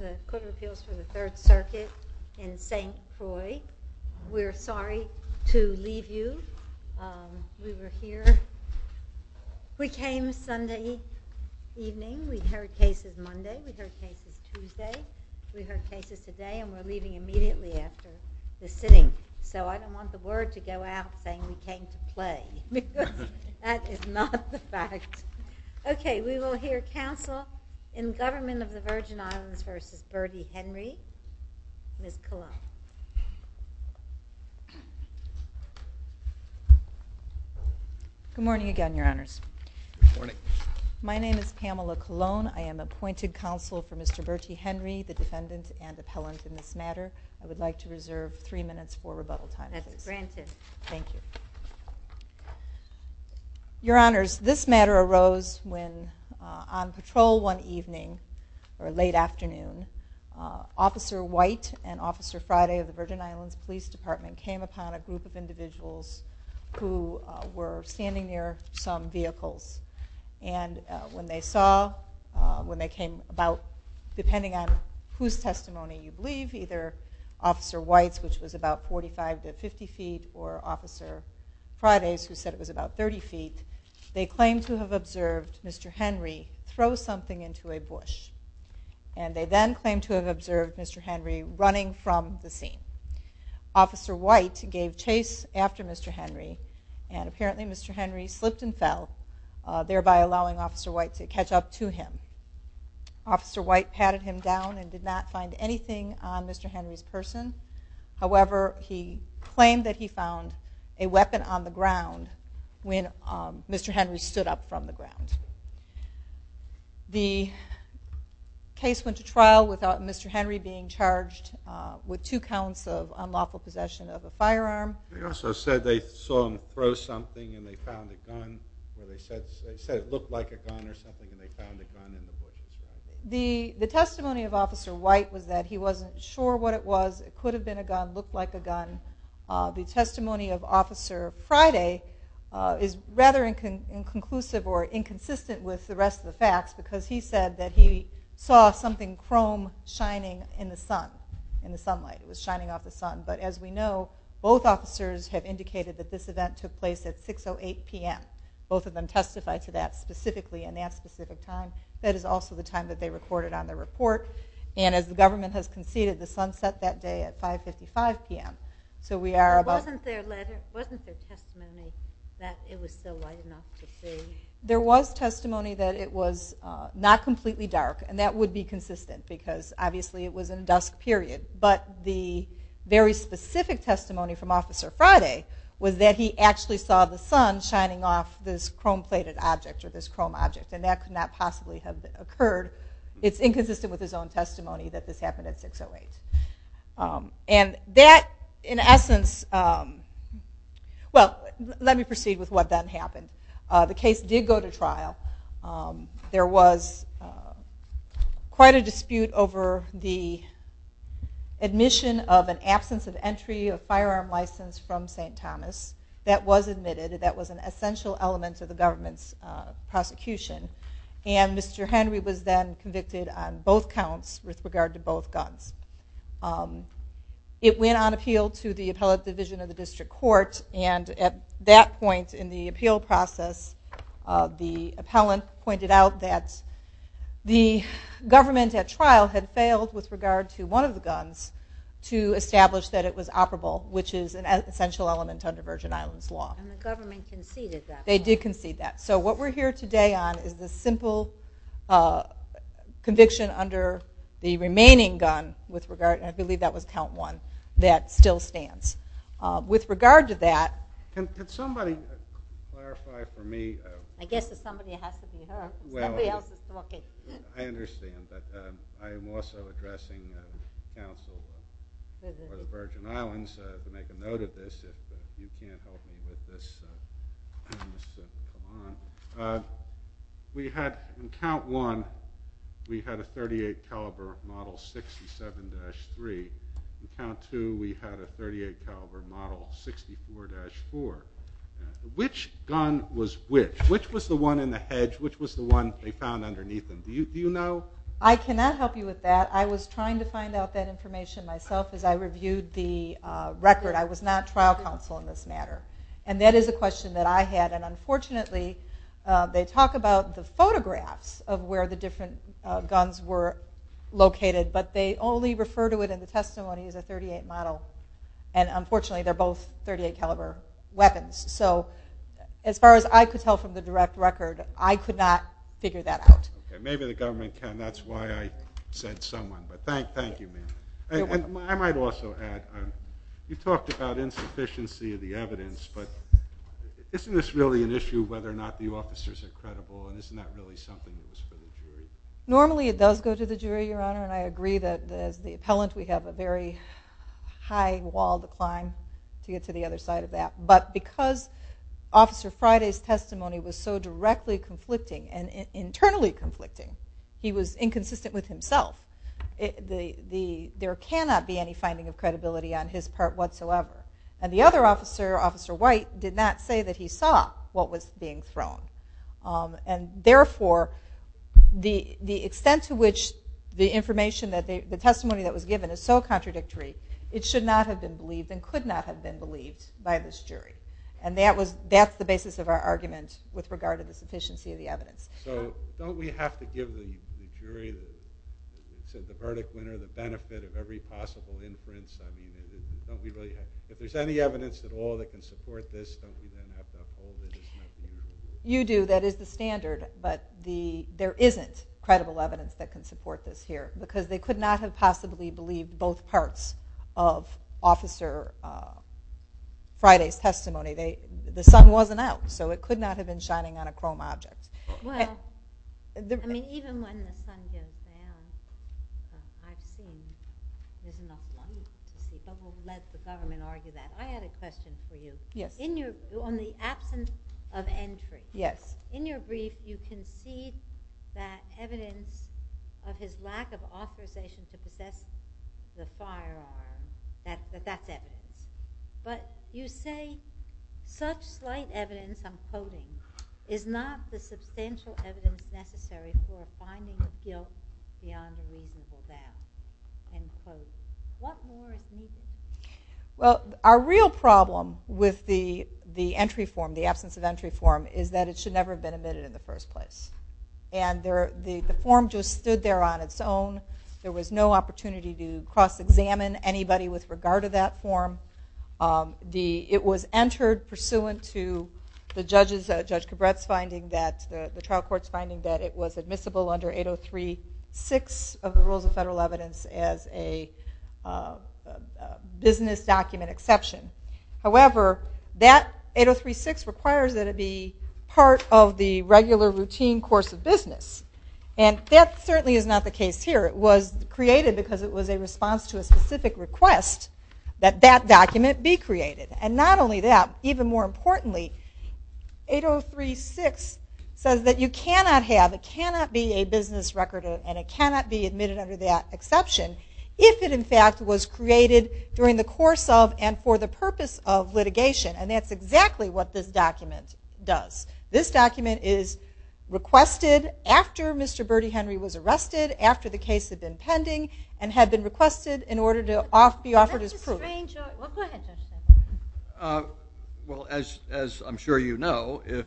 The Court of Appeals for the Third Circuit in St. Croix. We're sorry to leave you. We were here. We came Sunday evening. We heard cases Monday, we heard cases Tuesday, we heard cases today, and we're leaving immediately after the sitting, so I don't want the word to go out saying we came to play. That is not the fact. Okay, we will hear counsel in Government of the Virgin Islands v. Bertie Henry. Ms. Colon. Good morning again, Your Honors. Good morning. My name is Pamela Colon. I am appointed counsel for Mr. Bertie Henry, the defendant and appellant in this matter. I would like to reserve three minutes for rebuttal time. That's granted. Thank you. Your Honors, this matter arose when on patrol one evening, or late afternoon, Officer White and Officer Friday of the Virgin Islands Police Department came upon a group of individuals who were standing near some vehicles. And when they saw, when they came about, depending on whose testimony you believe, either Officer White's, which was about 45 to 50 feet, or Officer Friday's, who said it was about 30 feet, they claimed to have observed Mr. Henry throw something into a bush. And they then claimed to have observed Mr. Henry running from the scene. Officer White gave chase after Mr. Henry, and apparently Mr. Henry slipped and fell, thereby allowing Officer White to catch up to him. Officer White patted him down and did not find anything on Mr. Henry's person. However, he claimed that he found a weapon on the ground when Mr. Henry stood up from the ground. The case went to trial without Mr. Henry being charged with two counts of unlawful possession of a firearm. They also said they saw him throw something and they found a gun, or they said it looked like a gun or something, and they found a gun in the bush. The testimony of Officer White was that he wasn't sure what it was. It could have been a gun, looked like a gun. The testimony of Officer Friday is rather inconclusive or inconsistent with the rest of the facts, because he said that he saw something chrome shining in the sunlight. It was shining off the sun, but as we know, both officers have indicated that this event took place at 6.08 p.m. Both of them testified to that specifically and at that specific time. That is also the time that they recorded on their report. And as the government has conceded, the sun set that day at 5.55 p.m. So we are about... Wasn't there testimony that it was still light enough to see? There was testimony that it was not completely dark, and that would be consistent, because obviously it was in dusk period. But the very specific testimony from Officer Friday was that he actually saw the sun shining off this chrome-plated object, or this chrome object. And that could not possibly have occurred. It's inconsistent with his own testimony that this happened at 6.08. And that, in essence... Well, let me proceed with what then happened. The case did go to trial. There was quite a dispute over the admission of an absence of entry of firearm license from St. Thomas. That was admitted. That was an essential element of the government's prosecution. And Mr. Henry was then convicted on both counts with regard to both guns. It went on appeal to the Appellate Division of the District Court. And at that point in the appeal process, the appellant pointed out that the government at trial had failed with regard to one of the guns to establish that it was operable, which is an essential element under Virgin Islands law. And the government conceded that. They did concede that. So what we're here today on is the simple conviction under the remaining gun, and I believe that was count one, that still stands. With regard to that... Can somebody clarify for me... I guess it's somebody that has to be heard. I understand, but I am also addressing counsel for the Virgin Islands to make a note of this. If you can't help me with this, I promise to come on. We had in count one, we had a .38 caliber Model 67-3. In count two, we had a .38 caliber Model 64-4. Which gun was which? Which was the one in the hedge? Which was the one they found underneath them? Do you know? I cannot help you with that. I was trying to find out that information myself as I reviewed the record. I was not trial counsel in this matter. And that is a question that I had. And unfortunately, they talk about the photographs of where the different guns were located, but they only refer to it in the testimony as a .38 model. And unfortunately, they're both .38 caliber weapons. So as far as I could tell from the direct record, I could not figure that out. Maybe the government can. That's why I said someone. But thank you, ma'am. I might also add, you talked about insufficiency of the evidence, but isn't this really an issue whether or not the officers are credible? And isn't that really something that is for the jury? Normally it does go to the jury, Your Honor, and I agree that as the appellant we have a very high wall decline to get to the other side of that. But because Officer Friday's testimony was so directly conflicting and internally conflicting, he was inconsistent with himself. There cannot be any finding of credibility on his part whatsoever. And the other officer, Officer White, did not say that he saw what was being thrown. And therefore, the extent to which the testimony that was given is so contradictory, it should not have been believed and could not have been believed by this jury. And that's the basis of our argument with regard to the sufficiency of the evidence. So don't we have to give the jury, the verdict winner, the benefit of every possible inference? If there's any evidence at all that can support this, don't we then have to uphold it? You do. That is the standard. But there isn't credible evidence that can support this here because they could not have possibly believed both parts of Officer Friday's testimony. The sun wasn't out, so it could not have been shining on a chrome object. Well, I mean, even when the sun goes down, I've seen there's enough light to see. Don't let the government argue that. I had a question for you. Yes. On the absence of entry. Yes. In your brief, you concede that evidence of his lack of authorization to possess the firearm, that that's evidence. But you say such slight evidence, I'm quoting, is not the substantial evidence necessary for a finding of guilt beyond a reasonable doubt. End quote. What more is needed? Well, our real problem with the entry form, the absence of entry form, is that it should never have been admitted in the first place. And the form just stood there on its own. There was no opportunity to cross-examine anybody with regard to that form. It was entered pursuant to the trial court's finding that it was admissible under 803-6 of the rules of federal evidence as a business document exception. However, that 803-6 requires that it be part of the regular routine course of business. And that certainly is not the case here. It was created because it was a response to a specific request that that document be created. And not only that, even more importantly, 803-6 says that you cannot have, it cannot be a business record and it cannot be admitted under that exception if it, in fact, was created during the course of and for the purpose of litigation. And that's exactly what this document does. This document is requested after Mr. Bertie Henry was arrested, after the case had been pending, and had been requested in order to be offered as proof. Well, go ahead, Judge. Well, as I'm sure you know, if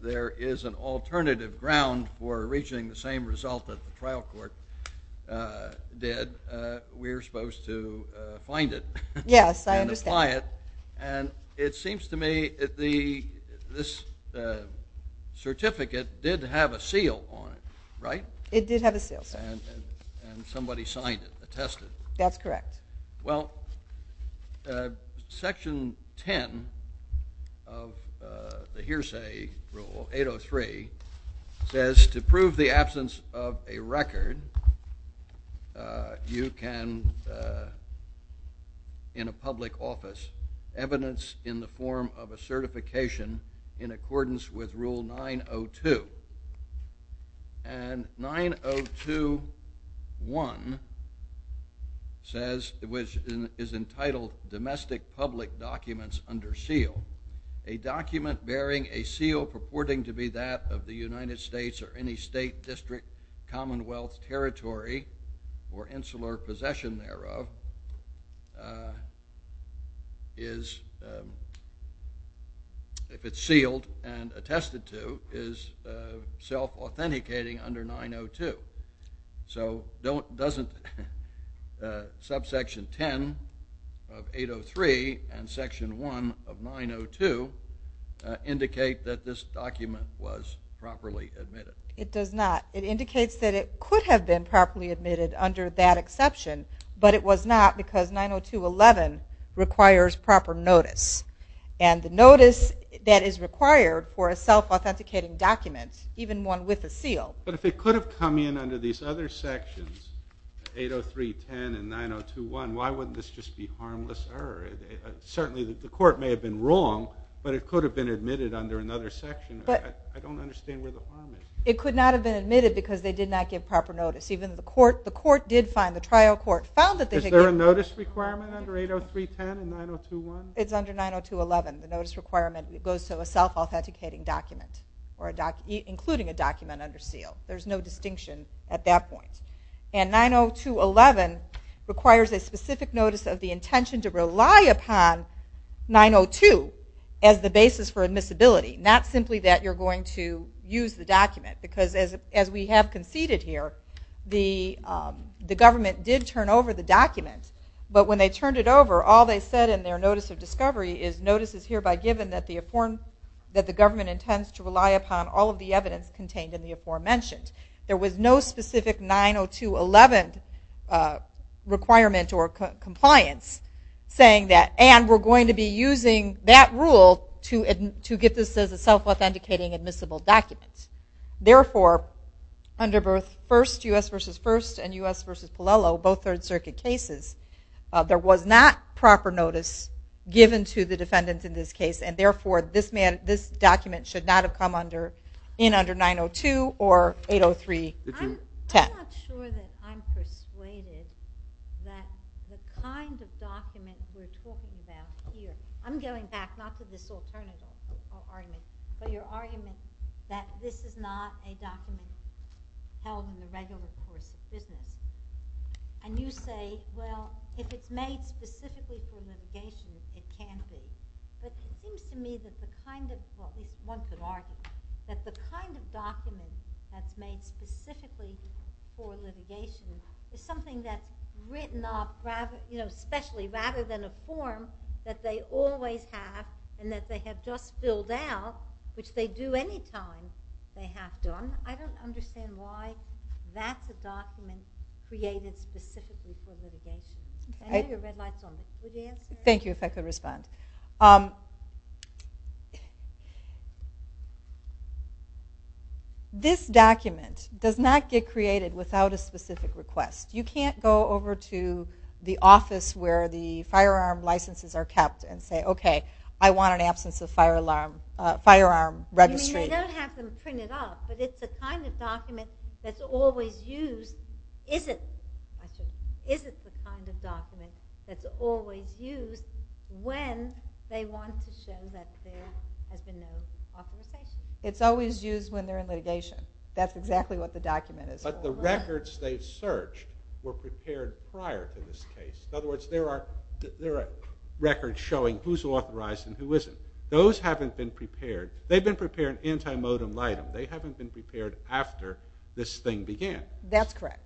there is an alternative ground for reaching the same result that the trial court did, we're supposed to find it. Yes, I understand. And apply it. And it seems to me that this certificate did have a seal on it, right? It did have a seal, sir. And somebody signed it, attested it. That's correct. Well, Section 10 of the hearsay rule, 803, says to prove the absence of a record, you can, in a public office, evidence in the form of a certification in accordance with Rule 902. And 902.1 says, which is entitled, Domestic Public Documents Under Seal. A document bearing a seal purporting to be that of the United States or any state, district, commonwealth, territory, or insular possession thereof, if it's sealed and attested to, is self-authenticating under 902. So doesn't Subsection 10 of 803 and Section 1 of 902 indicate that this document was properly admitted? It does not. It indicates that it could have been properly admitted under that exception, but it was not because 902.11 requires proper notice. And the notice that is required for a self-authenticating document, even one with a seal. But if it could have come in under these other sections, 803.10 and 902.1, why wouldn't this just be harmless error? Certainly the court may have been wrong, but it could have been admitted under another section. I don't understand where the problem is. It could not have been admitted because they did not give proper notice. Even the trial court found that they could get it. Is there a notice requirement under 803.10 and 902.1? It's under 902.11. The notice requirement goes to a self-authenticating document, including a document under seal. There's no distinction at that point. And 902.11 requires a specific notice of the intention to rely upon 902 as the basis for admissibility, not simply that you're going to use the document. Because as we have conceded here, the government did turn over the document. But when they turned it over, all they said in their notice of discovery is notice is hereby given that the government intends to rely upon all of the evidence contained in the aforementioned. There was no specific 902.11 requirement or compliance saying that, and we're going to be using that rule to get this as a self-authenticating admissible document. Therefore, under both U.S. v. First and U.S. v. Polelo, both Third Circuit cases, there was not proper notice given to the defendants in this case, and therefore this document should not have come in under 902 or 803.10. I'm not sure that I'm persuaded that the kind of document we're talking about here, I'm going back not to this alternative argument, but your argument that this is not a document held in the regular course of business. And you say, well, if it's made specifically for litigation, it can't be. But it seems to me that the kind of document that's made specifically for litigation is something that's written off especially rather than a form that they always have and that they have just filled out, which they do any time they have done. I don't understand why that's a document created specifically for litigation. I know your red light's on. Thank you, if I could respond. This document does not get created without a specific request. You can't go over to the office where the firearm licenses are kept and say, okay, I want an absence of firearm registry. You don't have them printed off, but it's the kind of document that's always used. Is it the kind of document that's always used when they want to show that there has been no authorization? It's always used when they're in litigation. That's exactly what the document is. But the records they've searched were prepared prior to this case. In other words, there are records showing who's authorized and who isn't. Those haven't been prepared. They've been prepared anti-modem-litem. They haven't been prepared after this thing began. That's correct.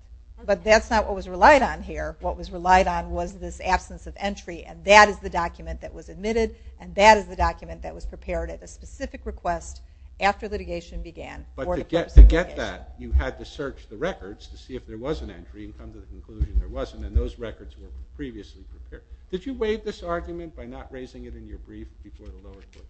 But that's not what was relied on here. What was relied on was this absence of entry, and that is the document that was admitted, and that is the document that was prepared at a specific request after litigation began. But to get that, you had to search the records to see if there was an entry and come to the conclusion there wasn't, and those records were previously prepared. Did you waive this argument by not raising it in your brief before the lower court?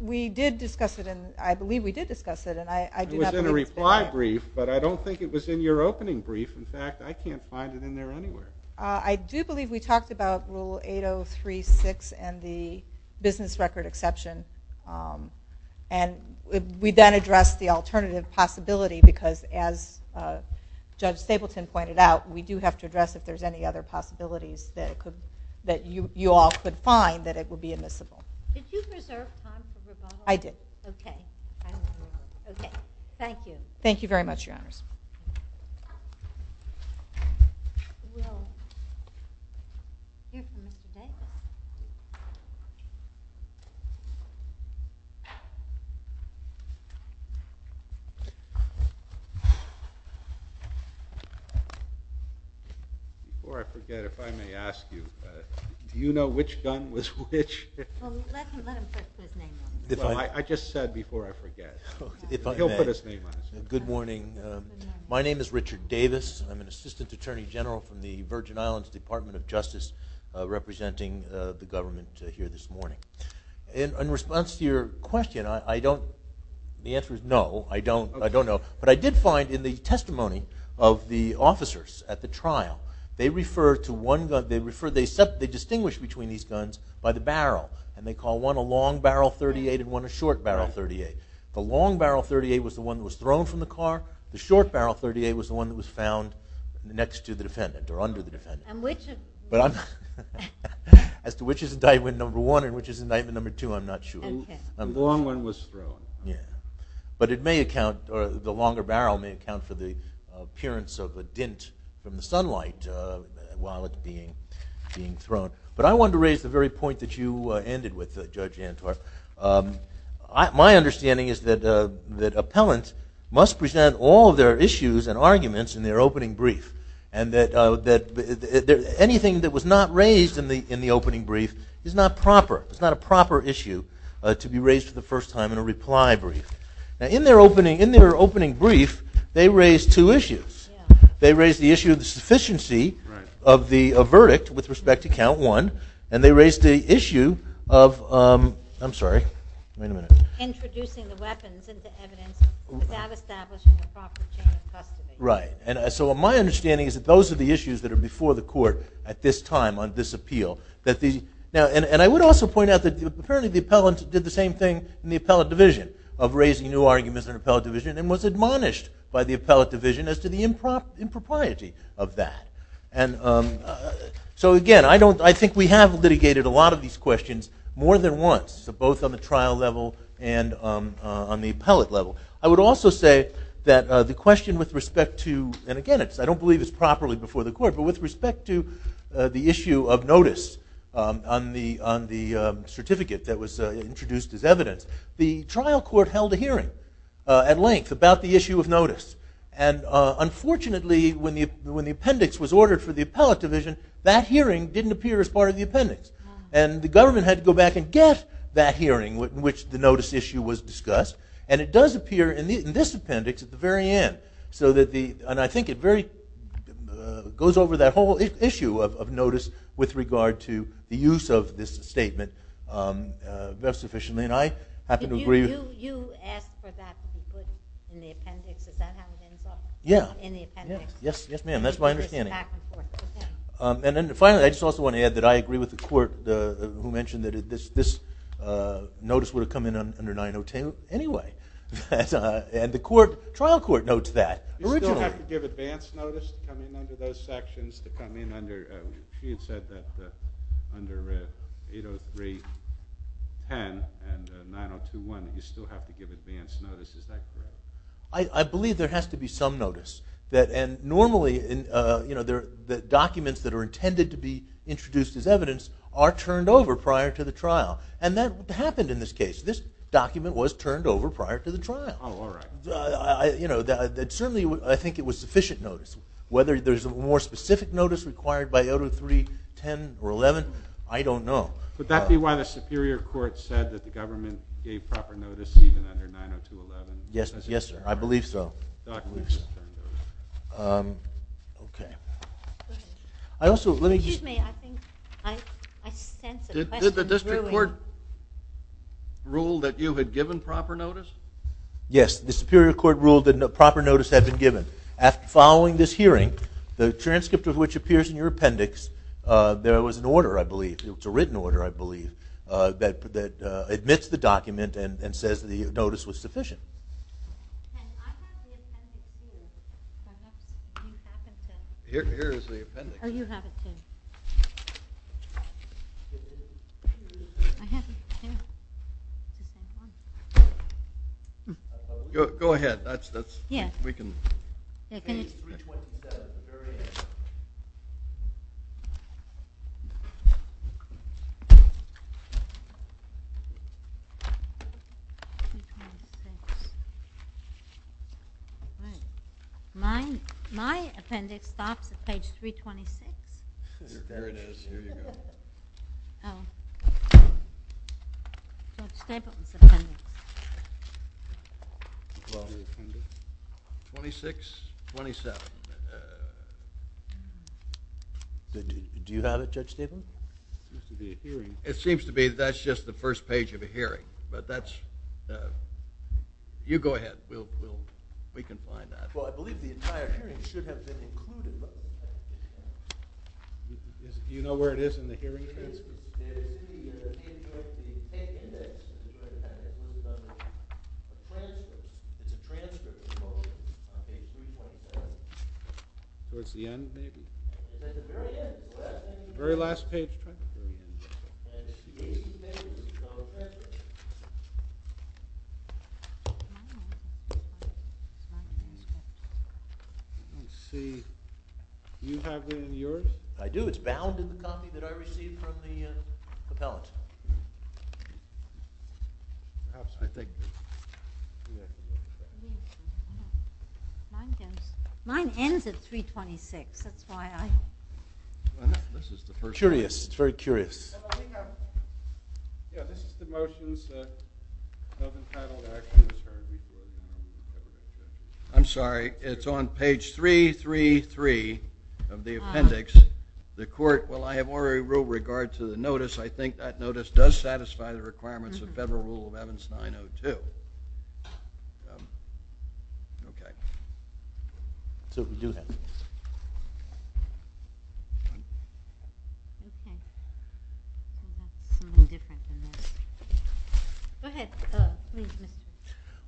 We did discuss it, and I believe we did discuss it. It was in a reply brief, but I don't think it was in your opening brief. In fact, I can't find it in there anywhere. I do believe we talked about Rule 8036 and the business record exception, and we then addressed the alternative possibility because as Judge Stapleton pointed out, we do have to address if there's any other possibilities that you all could find that it would be admissible. Did you preserve Hans' rebuttal? I did. Okay. Okay. Thank you. Thank you very much, Your Honors. Before I forget, if I may ask you, do you know which gun was which? Let him say his name. I just said before I forget. He'll put his name on it. Good morning. My name is Richard Davis. I'm an Assistant Attorney General from the Virgin Islands Department of Justice representing the government here this morning. In response to your question, the answer is no, I don't know. But I did find in the testimony of the officers at the trial, they distinguish between these guns by the barrel, and they call one a long barrel .38 and one a short barrel .38. The long barrel .38 was the one that was thrown from the car. The short barrel .38 was the one that was found next to the defendant or under the defendant. As to which is indictment number one and which is indictment number two, I'm not sure. The long one was thrown. Yeah. But the longer barrel may account for the appearance of a dint from the sunlight while it's being thrown. But I wanted to raise the very point that you ended with, Judge Antwerp. My understanding is that appellants must present all of their issues and arguments in their opening brief, and that anything that was not raised in the opening brief is not proper. It's not a proper issue to be raised for the first time in a reply brief. In their opening brief, they raised two issues. They raised the issue of the sufficiency of the verdict with respect to count one, and they raised the issue of introducing the weapons into evidence without establishing a proper chain of custody. Right. So my understanding is that those are the issues that are before the court at this time on this appeal. And I would also point out that apparently the appellant did the same thing in the appellate division of raising new arguments in the appellate division and was admonished by the appellate division as to the impropriety of that. So, again, I think we have litigated a lot of these questions more than once, both on the trial level and on the appellate level. I would also say that the question with respect to, and, again, I don't believe it's properly before the court, but with respect to the issue of notice on the certificate that was introduced as evidence, the trial court held a hearing at length about the issue of notice. And, unfortunately, when the appendix was ordered for the appellate division, that hearing didn't appear as part of the appendix. And the government had to go back and get that hearing in which the notice issue was discussed, and it does appear in this appendix at the very end. And I think it goes over that whole issue of notice with regard to the use of this statement very sufficiently, and I happen to agree. You asked for that to be put in the appendix. Is that how it ends up? Yeah. In the appendix. Yes, ma'am. That's my understanding. And then, finally, I just also want to add that I agree with the court who mentioned that this notice would have come in under 902. Anyway, and the trial court notes that. You still have to give advance notice to come in under those sections, she had said that under 803.10 and 902.1, you still have to give advance notice. Is that correct? I believe there has to be some notice. And, normally, the documents that are intended to be introduced as evidence are turned over prior to the trial, and that happened in this case. This document was turned over prior to the trial. Oh, all right. Certainly, I think it was sufficient notice. Whether there's a more specific notice required by 803.10 or 11, I don't know. Would that be why the Superior Court said that the government gave proper notice even under 902.11? Yes, sir. I believe so. Excuse me. I sense a question brewing. Did the district court rule that you had given proper notice? Yes. The Superior Court ruled that proper notice had been given. Following this hearing, the transcript of which appears in your appendix, there was an order, I believe. It's a written order, I believe, that admits the document and says the notice was sufficient. I have the appendix, too. Do you have it, too? Here is the appendix. Oh, you have it, too. Go ahead. Page 326. My appendix stops at page 326. Here it is. Here you go. George Stapleton's appendix. 2627. Do you have it, Judge Staben? It seems to be a hearing. It seems to be. That's just the first page of a hearing. But that's you go ahead. We can find that. Well, I believe the entire hearing should have been included. Do you know where it is in the hearing transcript? It's in the appendix. It's a transcript. Towards the end, maybe? The very last page. Let's see. Do you have it in yours? I do. It's bound in the copy that I received from the appellant. Mine ends at 326. It's very curious. I'm sorry. It's on page 333 of the appendix. The court, while I have already ruled regard to the notice, I think that notice does satisfy the requirements of Federal Rule of Evans 902.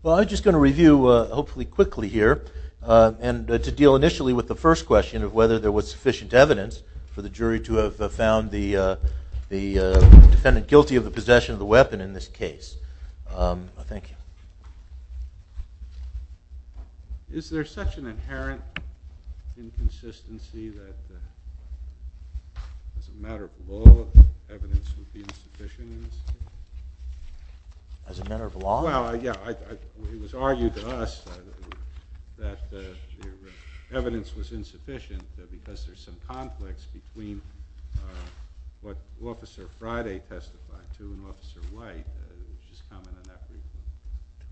Well, I'm just going to review, hopefully quickly here, and to deal initially with the first question of whether there was sufficient evidence for the jury to have found the defendant guilty of the possession of the weapon in this case. Thank you. Is there such an inherent inconsistency that, as a matter of law, evidence would be insufficient in this case? As a matter of law? Well, yeah. It was argued to us that the evidence was insufficient because there's some conflicts between what Officer Friday testified to and Officer White. Just comment on that briefly.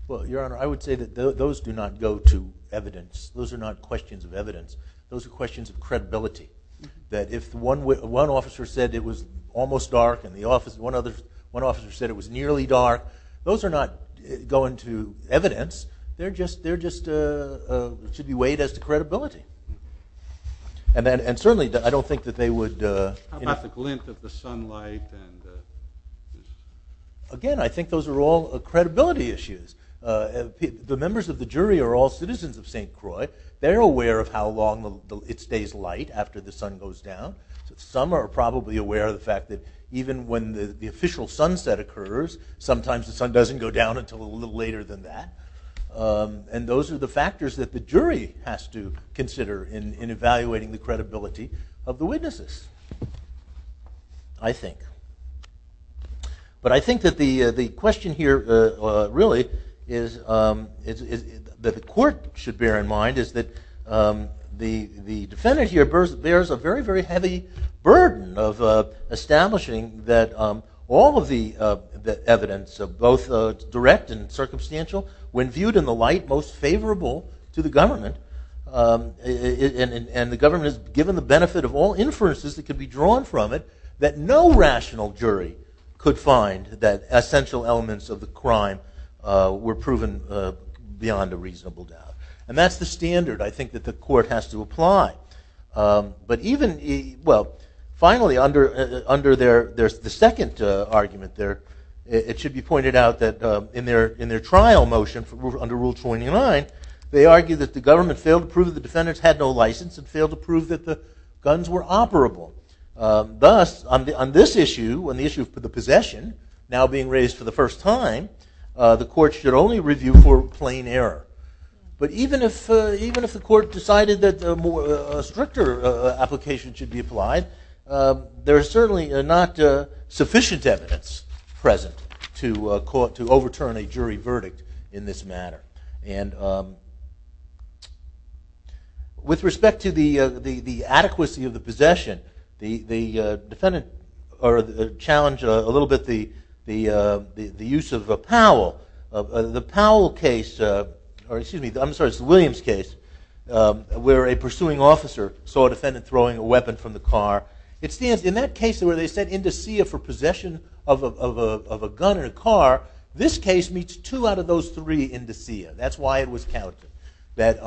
Well, Your Honor, I would say that those do not go to evidence. Those are not questions of evidence. Those are questions of credibility. That if one officer said it was almost dark and one officer said it was nearly dark, those are not going to evidence. They just should be weighed as to credibility. And certainly, I don't think that they would... How about the glint of the sunlight? Again, I think those are all credibility issues. The members of the jury are all citizens of St. Croix. They're aware of how long it stays light after the sun goes down. Some are probably aware of the fact that even when the official sunset occurs, sometimes the sun doesn't go down until a little later than that. And those are the factors that the jury has to consider in evaluating the credibility of the witnesses, I think. But I think that the question here, really, that the court should bear in mind is that the defendant here bears a very, very heavy burden of establishing that all of the evidence, both direct and circumstantial, when viewed in the light most favorable to the government, and the government is given the benefit of all inferences that could be drawn from it, that no rational jury could find that essential elements of the crime were proven beyond a reasonable doubt. And that's the standard, I think, that the court has to apply. But even, well, finally, under the second argument there, it should be pointed out that in their trial motion under Rule 29, they argue that the government failed to prove the defendants had no license and failed to prove that the guns were operable. Thus, on this issue, on the issue of the possession, now being raised for the first time, the court should only review for plain error. But even if the court decided that a stricter application should be applied, there is certainly not sufficient evidence present to overturn a jury verdict in this matter. And with respect to the adequacy of the possession, the defendant challenged a little bit the use of Powell. The Powell case, or excuse me, I'm sorry, it's the Williams case, where a pursuing officer saw a defendant throwing a weapon from the car. In that case where they set indicia for possession of a gun in a car, this case meets two out of those three indicia. That's why it was counted. But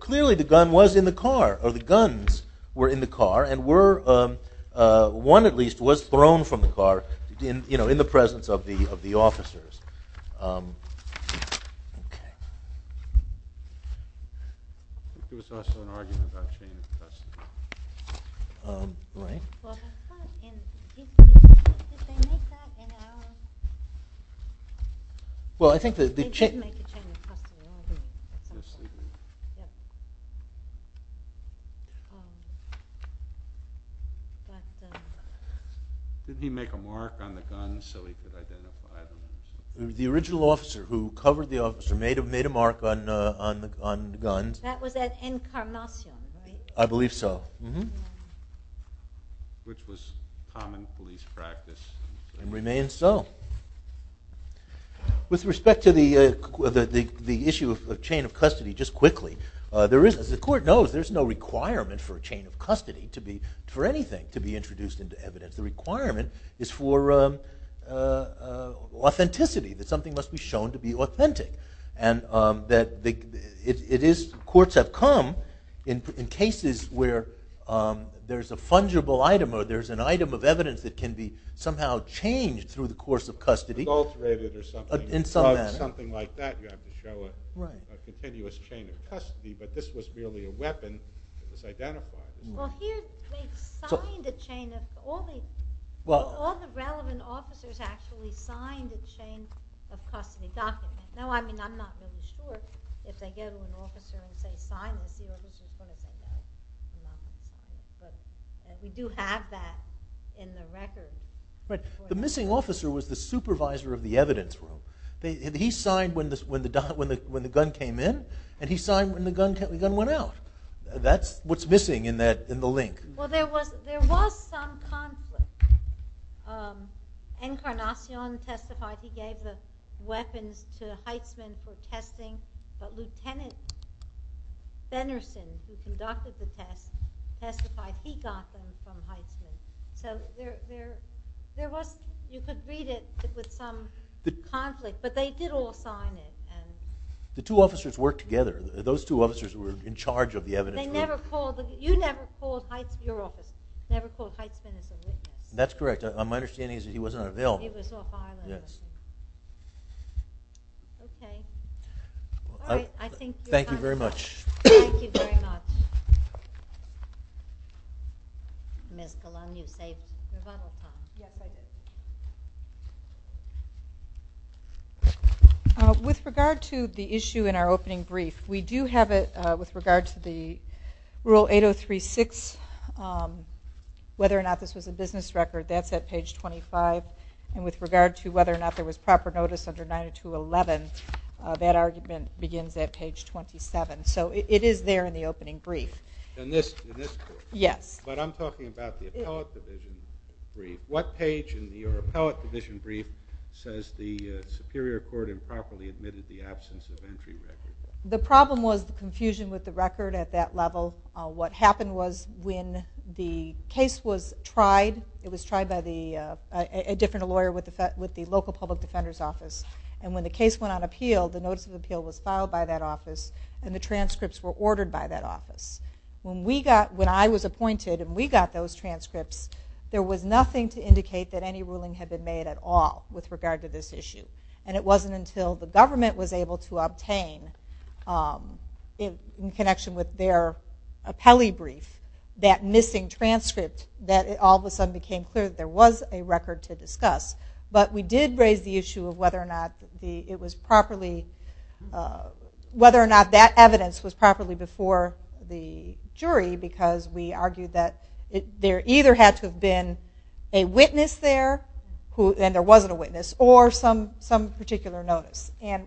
clearly the gun was in the car, or the guns were in the car, and one at least was thrown from the car in the presence of the officers. Didn't he make a mark on the guns so he could identify them? The original officer who covered the officer made a mark on the guns. That was at Encarnacion, right? I believe so. Which was common police practice. And remains so. With respect to the issue of chain of custody, just quickly, as the court knows, there's no requirement for a chain of custody, for anything to be introduced into evidence. The requirement is for authenticity, that something must be shown to be authentic. Courts have come in cases where there's a fungible item, or there's an item of evidence that can be somehow changed through the course of custody in some manner. You have to show a continuous chain of custody, but this was merely a weapon that was identified. Here they've signed a chain of custody. All the relevant officers actually signed a chain of custody document. I'm not really sure. If they give them an officer and say, sign this, the original permit will go. But we do have that in the record. The missing officer was the supervisor of the evidence room. He signed when the gun came in, and he signed when the gun went out. That's what's missing in the link. Well, there was some conflict. Encarnacion testified he gave the weapons to Heisman for testing, but Lieutenant Benerson, who conducted the test, testified he got them from Heisman. So you could read it with some conflict, but they did all sign it. The two officers worked together. Those two officers were in charge of the evidence room. You never called Heisman your officer, never called Heisman as a witness. That's correct. My understanding is that he wasn't on a bill. He was Ohio. Okay. Thank you very much. Thank you very much. Ms. Golung, you saved the bubble time. Yes, I did. With regard to the issue in our opening brief, we do have it with regard to the Rule 8036, whether or not this was a business record. That's at page 25. And with regard to whether or not there was proper notice under 9211, that argument begins at page 27. So it is there in the opening brief. In this court? Yes. But I'm talking about the appellate division brief. What page in your appellate division brief says the Superior Court improperly admitted the absence of entry record? The problem was the confusion with the record at that level. What happened was when the case was tried, it was tried by a different lawyer with the local public defender's office, and when the case went on appeal, the notice of appeal was filed by that office, and the transcripts were ordered by that office. When I was appointed and we got those transcripts, there was nothing to indicate that any ruling had been made at all with regard to this issue. And it wasn't until the government was able to obtain, in connection with their appellee brief, that missing transcript, that it all of a sudden became clear that there was a record to discuss. But we did raise the issue of whether or not that evidence was properly before the jury because we argued that there either had to have been a witness there, and there wasn't a witness, or some particular notice. And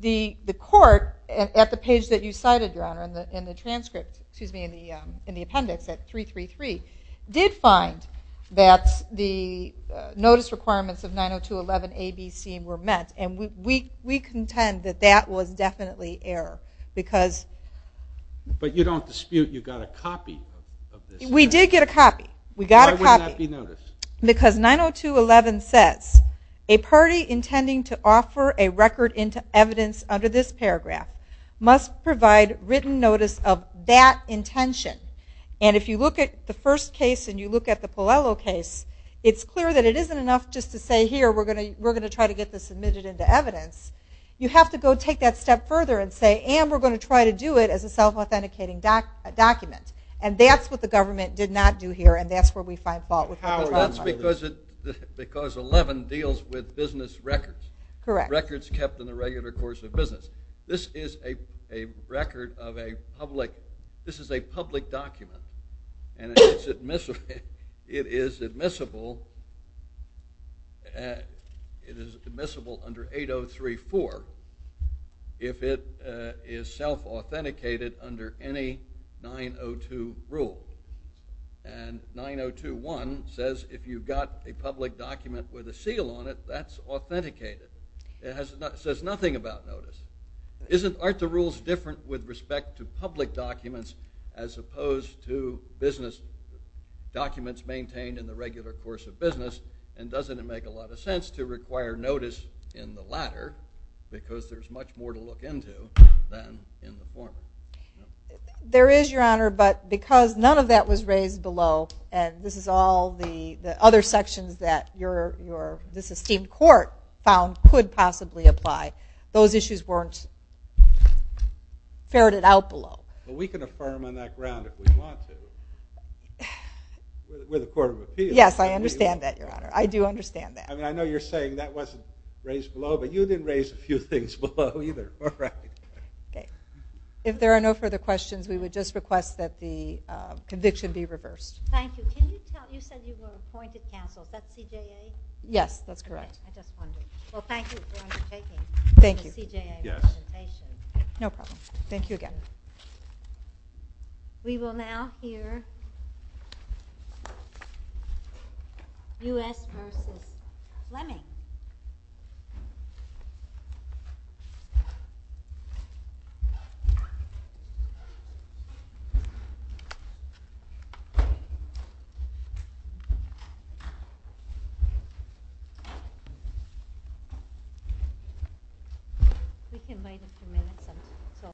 the court, at the page that you cited, Your Honor, excuse me, in the appendix at 333, did find that the notice requirements of 902.11a.b.c. were met. And we contend that that was definitely error because... But you don't dispute you got a copy of this? We did get a copy. Why would that not be noticed? Because 902.11 says, a party intending to offer a record into evidence under this paragraph must provide written notice of that intention. And if you look at the first case and you look at the Pallello case, it's clear that it isn't enough just to say, here, we're going to try to get this admitted into evidence. You have to go take that step further and say, and we're going to try to do it as a self-authenticating document. And that's what the government did not do here, and that's where we find fault with the Patron Clause. But that's because 11 deals with business records. Correct. Records kept in the regular course of business. This is a public document, and it is admissible under 803.4 if it is self-authenticated under any 902 rule. And 902.1 says, if you've got a public document with a seal on it, that's authenticated. It says nothing about notice. Aren't the rules different with respect to public documents as opposed to business documents maintained in the regular course of business? And doesn't it make a lot of sense to require notice in the latter because there's much more to look into than in the former? There is, Your Honor, but because none of that was raised below, and this is all the other sections that this esteemed court found could possibly apply, those issues weren't ferreted out below. Well, we can affirm on that ground if we want to with a court of appeals. Yes, I understand that, Your Honor. I do understand that. I mean, I know you're saying that wasn't raised below, but you didn't raise a few things below either. All right. Okay. If there are no further questions, we would just request that the conviction be reversed. Thank you. You said you were appointed counsel. Is that CJA? Yes, that's correct. Okay. I just wondered. Well, thank you for undertaking the CJA representation. Thank you. Yes. No problem. Thank you again. We will now hear U.S. v. Fleming. We can wait a few minutes. Okay. Thank you. Thank you. Thank you.